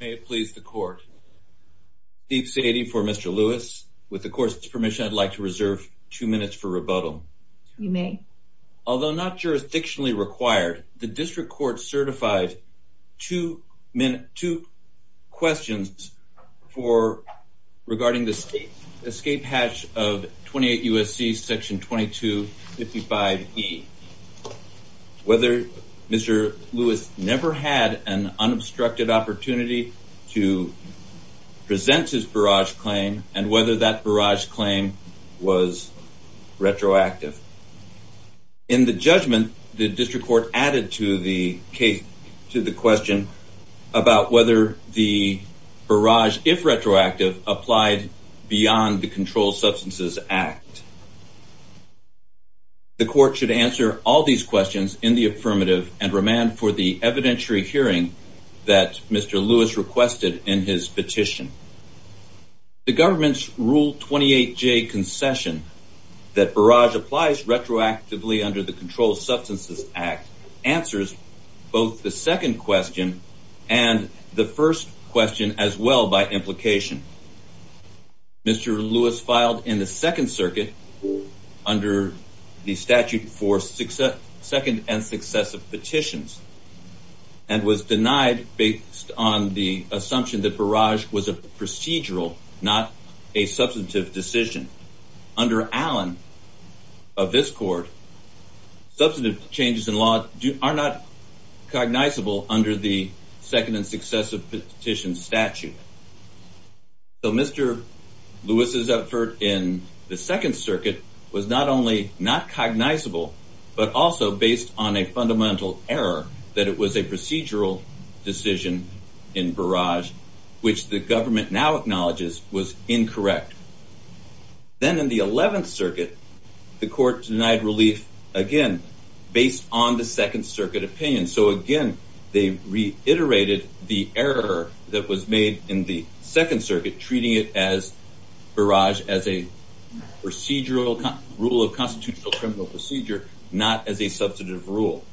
May it please the court. Steve Sadie for Mr. Lewis. With the court's permission I'd like to reserve two minutes for rebuttal. You may. Although not jurisdictionally required, the district court certified two questions regarding the state escape hatch of 28 U.S.C. section 2255E. Whether Mr. Lewis never had an unobstructed opportunity to present his barrage claim and whether that barrage claim was retroactive. In the judgment, the district court added to the question about whether the barrage, if retroactive, applied beyond the Controlled Substances Act. The court should answer all these questions in the affirmative and remand for the evidentiary hearing that Mr. Lewis requested in his petition. The government's Rule 28J concession that barrage applies retroactively under the Controlled Substances Act answers both the second question and the first question as well by implication. Mr. Lewis filed in the Second Circuit under the statute for second and successive petitions and was denied based on the assumption that barrage was a procedural, not a substantive decision. Under Allen of this court, substantive changes in law are not cognizable under the second and successive petitions statute. Mr. Lewis' effort in the Second Circuit was not only not cognizable, but also based on a fundamental error that it was a procedural decision in barrage, which the government now acknowledges was incorrect. Then in the Eleventh Circuit, the court denied relief again based on the Second Circuit opinion. So again, they reiterated the error that was made in the Second Circuit, treating it as barrage as a procedural rule of constitutional criminal procedure, not as a substantive rule.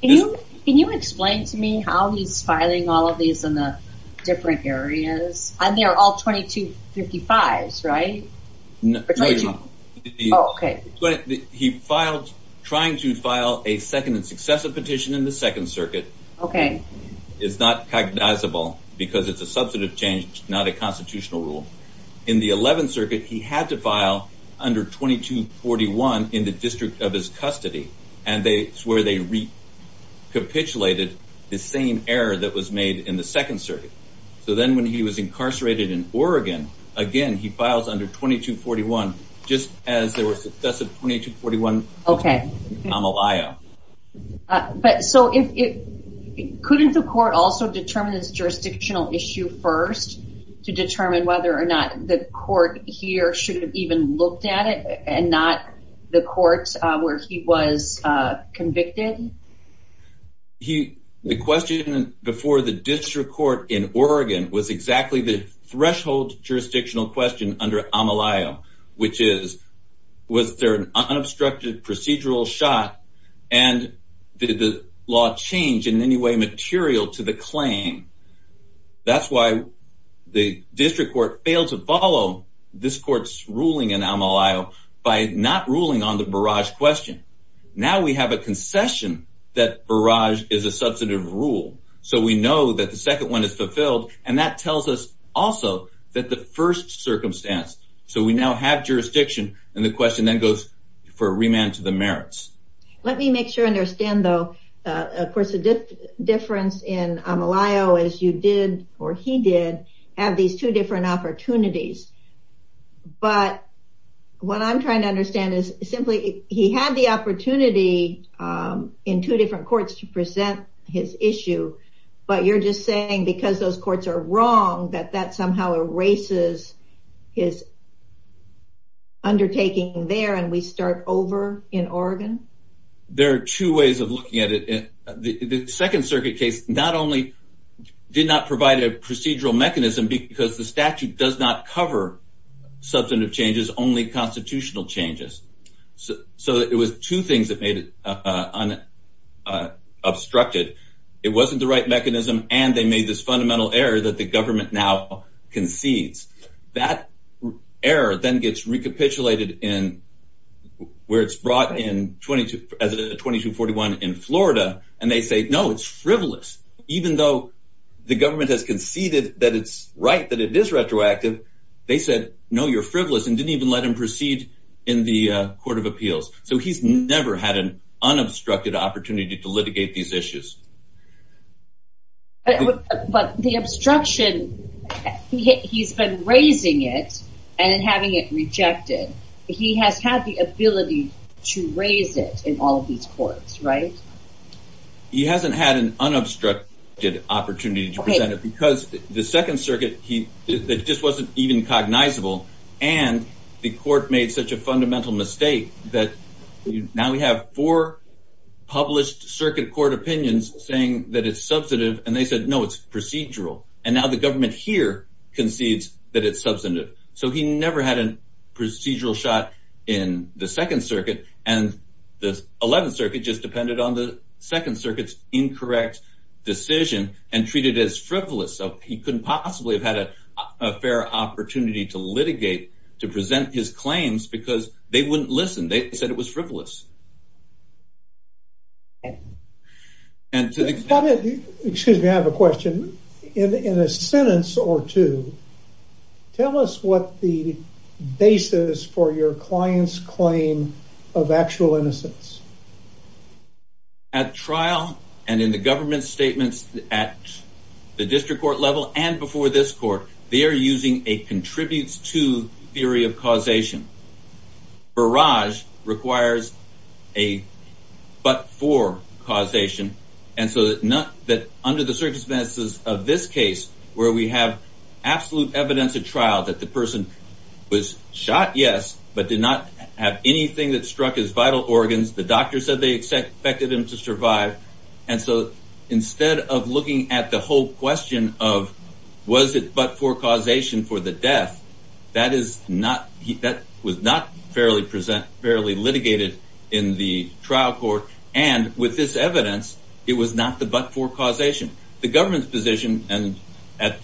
Can you explain to me how he's filing all of these in the different areas? And they are all 2255s, right? He filed trying to file a second and successive petition in the Second Circuit. It's not cognizable because it's a substantive change, not a constitutional rule. In the Eleventh Circuit, he had to file under 2241 in the district of his custody, and that's where they recapitulated the same error that was made in the Second Circuit. So then when he was incarcerated in Oregon, again, he files under 2241, just as there were successive 2241 amelia. But so couldn't the court also determine this jurisdictional issue first to determine whether or not the court here should have even looked at it and not the courts where he was convicted? The question before the district court in Oregon was exactly the threshold jurisdictional question under amelia, which is, was there an unobstructed procedural shot? And did the law change in any way material to the claim? That's why the district court failed to follow this court's ruling in amelia by not ruling on the barrage question. Now we have a concession that barrage is a substantive rule. So we know that the second one is fulfilled. And that tells us also that the first circumstance. So we now have jurisdiction. And the question then goes for a remand to the merits. Let me make sure I understand, though. Of course, the difference in Amelio is you did or he did have these two different opportunities. But what I'm trying to understand is simply he had the opportunity in two different courts to present his issue. But you're just saying because those courts are wrong, that that somehow erases his undertaking there and we start over in Oregon. There are two ways of looking at it. The second circuit case not only did not provide a procedural mechanism because the statute does not cover substantive changes, only constitutional changes. So it was two things that made it unobstructed. It wasn't the right mechanism. And they made this fundamental error that the government now concedes. That error then gets recapitulated where it's brought in as a 2241 in Florida. And they say, no, it's frivolous. Even though the government has conceded that it's right, that it is retroactive, they said, no, you're frivolous and didn't even let him proceed in the Court of Appeals. So he's never had an unobstructed opportunity to litigate these issues. But the obstruction, he's been raising it and having it rejected. He has had the ability to raise it in all of these courts, right? He hasn't had an unobstructed opportunity to present it because the Second Circuit, he just wasn't even cognizable. And the court made such a fundamental mistake that now we have four published circuit court opinions saying that it's substantive. And they said, no, it's procedural. And now the government here concedes that it's substantive. So he never had a procedural shot in the Second Circuit. And the 11th Circuit just depended on the Second Circuit's incorrect decision and treated it as frivolous. So he couldn't possibly have had a fair opportunity to litigate, to present his claims, because they wouldn't listen. They said it was frivolous. Excuse me, I have a question. In a sentence or two, tell us what the basis for your client's claim of actual innocence. At trial and in the government's statements at the district court level and before this court, they are using a contributes to theory of causation. Barrage requires a but-for causation. And so under the circumstances of this case, where we have absolute evidence at trial that the person was shot, yes, but did not have anything that struck his vital organs. The doctor said they expected him to survive. And so instead of looking at the whole question of was it but-for causation for the death, that was not fairly litigated in the trial court. And with this evidence, it was not the but-for causation. The government's position at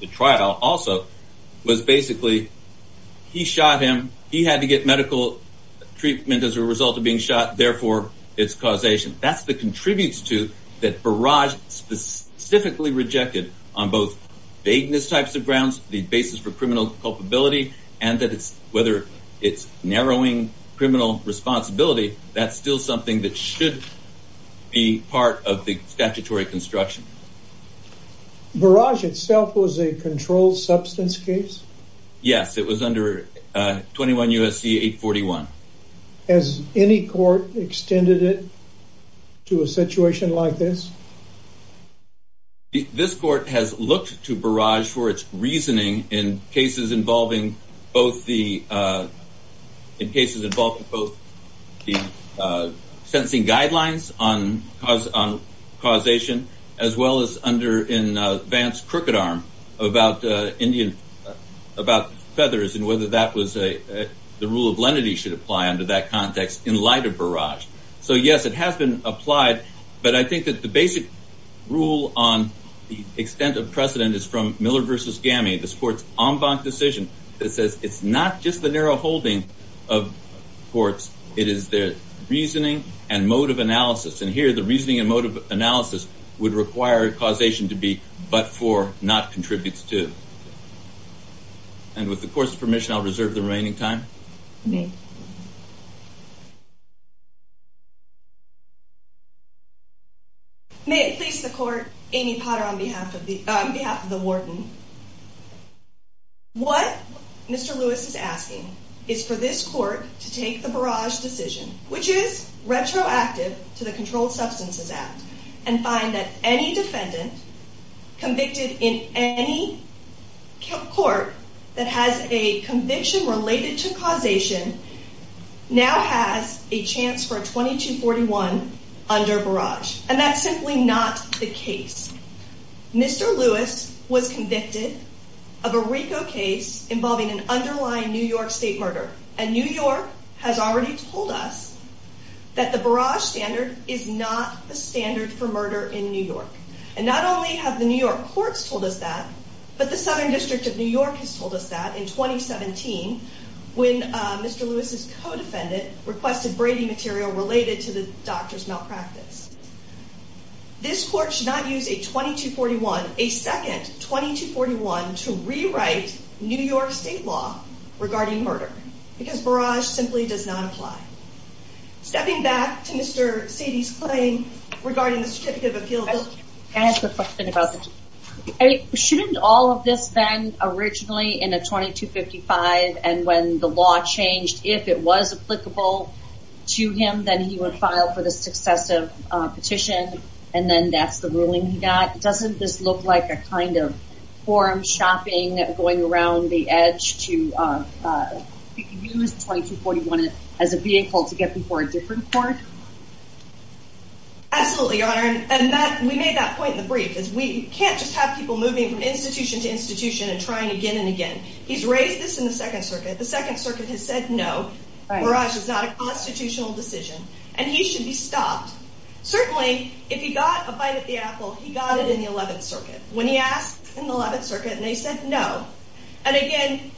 the trial also was basically he shot him. He had to get medical treatment as a result of being shot. Therefore, it's causation. That's the contributes to that Barrage specifically rejected on both vagueness types of grounds, the basis for criminal culpability, and that whether it's narrowing criminal responsibility, that's still something that should be part of the statutory construction. Barrage itself was a controlled substance case? Yes, it was under 21 U.S.C. 841. Has any court extended it to a situation like this? This court has looked to Barrage for its reasoning in cases involving both the sentencing guidelines on causation, as well as in Vance Crookedarm about feathers and whether the rule of lenity should apply under that context in light of Barrage. So yes, it has been applied. But I think that the basic rule on the extent of precedent is from Miller v. Gammy, this court's en banc decision, that says it's not just the narrow holding of courts, it is their reasoning and mode of analysis. And here, the reasoning and mode of analysis would require causation to be but-for, not contributes to. And with the court's permission, I'll reserve the remaining time. Thank you. May it please the court, Amy Potter on behalf of the warden. What Mr. Lewis is asking is for this court to take the Barrage decision, which is retroactive to the Controlled Substances Act, and find that any defendant convicted in any court that has a conviction related to causation now has a chance for a 2241 under Barrage. And that's simply not the case. Mr. Lewis was convicted of a RICO case involving an underlying New York state murder. And New York has already told us that the Barrage standard is not the standard for murder in New York. And not only have the New York courts told us that, but the Southern District of New York has told us that in 2017, when Mr. Lewis's co-defendant requested Brady material related to the doctor's malpractice. This court should not use a 2241, a second 2241, to rewrite New York state law regarding murder. Because Barrage simply does not apply. Stepping back to Mr. Sadie's claim regarding the Certificate of Appeal. Can I ask a question about this? Shouldn't all of this then originally in a 2255, and when the law changed, if it was applicable to him, then he would file for the successive petition, and then that's the ruling he got. Doesn't this look like a kind of forum shopping, going around the edge to use 2241 as a vehicle to get before a different court? Absolutely, Your Honor. And we made that point in the brief. We can't just have people moving from institution to institution and trying again and again. He's raised this in the Second Circuit. The Second Circuit has said no. Barrage is not a constitutional decision. And he should be stopped. Certainly, if he got a bite at the apple, he got it in the Eleventh Circuit. When he asked in the Eleventh Circuit, and they said no. And again,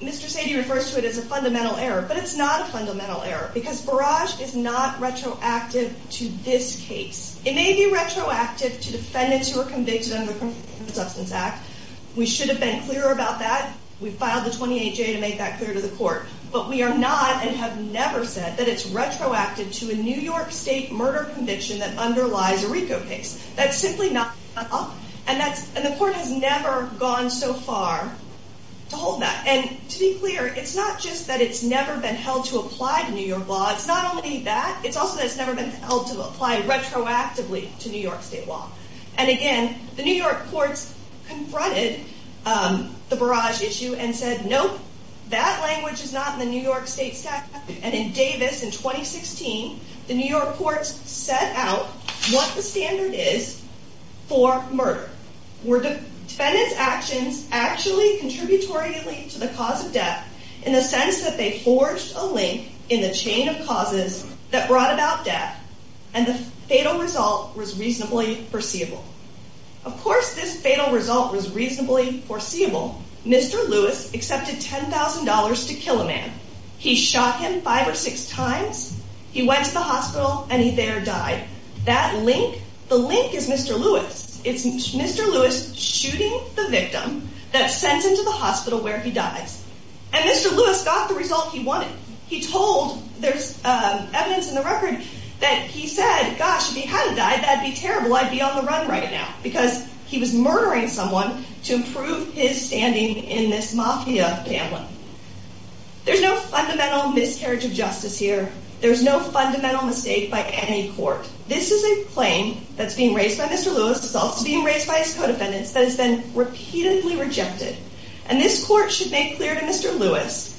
Mr. Sadie refers to it as a fundamental error, but it's not a fundamental error. Because Barrage is not retroactive to this case. It may be retroactive to defendants who are convicted under the Criminal Substance Act. We should have been clearer about that. We filed the 28-J to make that clear to the court. But we are not and have never said that it's retroactive to a New York State murder conviction that underlies a RICO case. That's simply not up. And the court has never gone so far to hold that. And to be clear, it's not just that it's never been held to apply to New York law. It's not only that. It's also that it's never been held to apply retroactively to New York State law. And again, the New York courts confronted the Barrage issue and said, nope, that language is not in the New York State statute. And in Davis in 2016, the New York courts set out what the standard is for murder. Were defendants' actions actually contributory to the cause of death, in the sense that they forged a link in the chain of causes that brought about death, and the fatal result was reasonably foreseeable. Of course, this fatal result was reasonably foreseeable. Mr. Lewis accepted $10,000 to kill a man. He shot him five or six times. He went to the hospital, and he there died. That link, the link is Mr. Lewis. It's Mr. Lewis shooting the victim that's sent into the hospital where he dies. And Mr. Lewis got the result he wanted. He told, there's evidence in the record, that he said, gosh, if he hadn't died, that'd be terrible. I'd be on the run right now. Because he was murdering someone to improve his standing in this mafia pamphlet. There's no fundamental miscarriage of justice here. There's no fundamental mistake by any court. This is a claim that's being raised by Mr. Lewis. It's also being raised by his co-defendants that has been repeatedly rejected. And this court should make clear to Mr. Lewis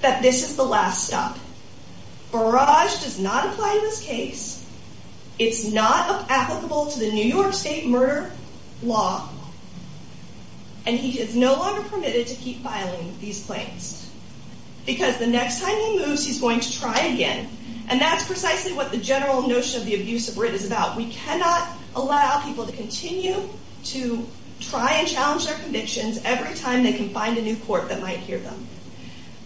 that this is the last stop. Barrage does not apply to this case. It's not applicable to the New York State murder law. And he is no longer permitted to keep filing these claims. Because the next time he moves, he's going to try again. And that's precisely what the general notion of the abuse of writ is about. We cannot allow people to continue to try and challenge their convictions every time they can find a new court that might hear them.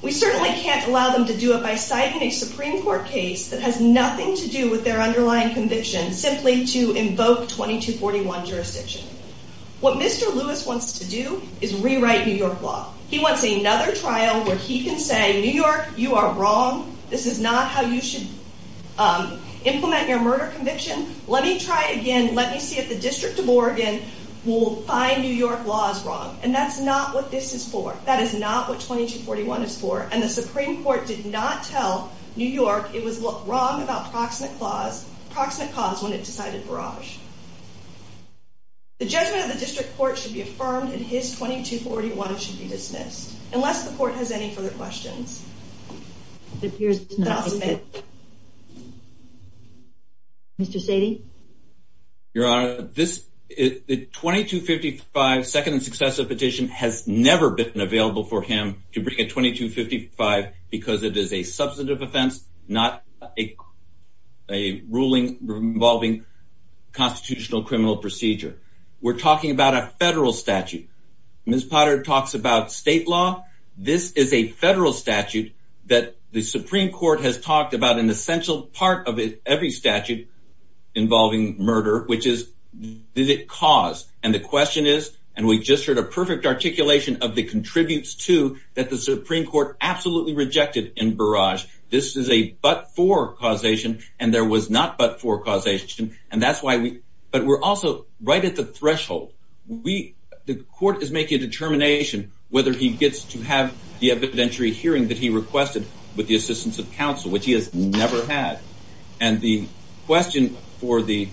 We certainly can't allow them to do it by citing a Supreme Court case that has nothing to do with their underlying conviction, simply to invoke 2241 jurisdiction. What Mr. Lewis wants to do is rewrite New York law. He wants another trial where he can say, New York, you are wrong. This is not how you should implement your murder conviction. Let me try again. Let me see if the District of Oregon will find New York laws wrong. And that's not what this is for. That is not what 2241 is for. And the Supreme Court did not tell New York it was wrong about proximate cause when it decided Barrage. The judgment of the District Court should be affirmed, and his 2241 should be dismissed, unless the court has any further questions. It appears it's not. Mr. Sadie? Your Honor, the 2255 second and successive petition has never been available for him to bring a 2255 because it is a substantive offense, not a ruling involving constitutional criminal procedure. We're talking about a federal statute. Ms. Potter talks about state law. This is a federal statute that the Supreme Court has talked about an essential part of every statute involving murder, which is, did it cause? And the question is, and we just heard a perfect articulation of the contributes to that the Supreme Court absolutely rejected in Barrage. This is a but-for causation, and there was not but-for causation. But we're also right at the threshold. The court is making a determination whether he gets to have the evidentiary hearing that he requested with the assistance of counsel, which he has never had. And the question for the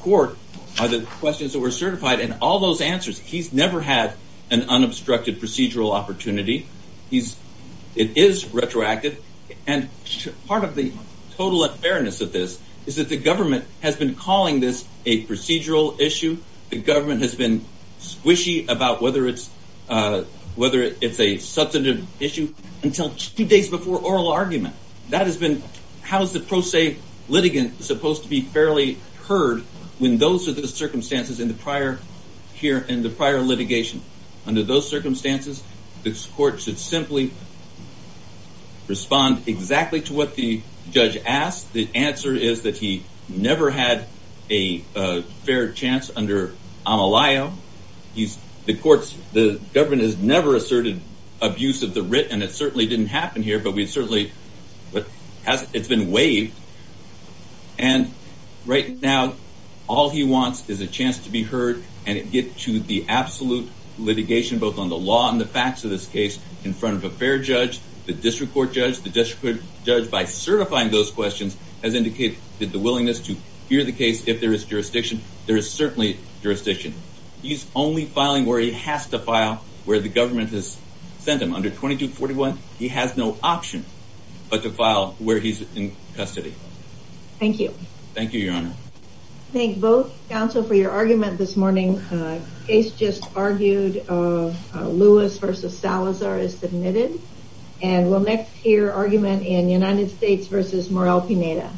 court are the questions that were certified, and all those answers, he's never had an unobstructed procedural opportunity. It is retroactive. And part of the total unfairness of this is that the government has been calling this a procedural issue. The government has been squishy about whether it's a substantive issue until two days before oral argument. That has been, how is the pro se litigant supposed to be fairly heard when those are the circumstances in the prior litigation? Under those circumstances, this court should simply respond exactly to what the judge asked. The answer is that he never had a fair chance under Amelio. He's, the courts, the government has never asserted abuse of the writ, and it certainly didn't happen here, but we certainly, but it's been waived. And right now, all he wants is a chance to be heard and get to the absolute litigation, both on the law and the facts of this case, in front of a fair judge, the district court judge. The district judge, by certifying those questions, has indicated the willingness to hear the case if there is jurisdiction. There is certainly jurisdiction. He's only filing where he has to file, where the government has sent him. Under 2241, he has no option but to file where he's in custody. Thank you. Thank you, Your Honor. Thank both counsel for your argument this morning. The case just argued, Lewis versus Salazar is submitted, and we'll next hear argument in United States versus Morrell-Pineda.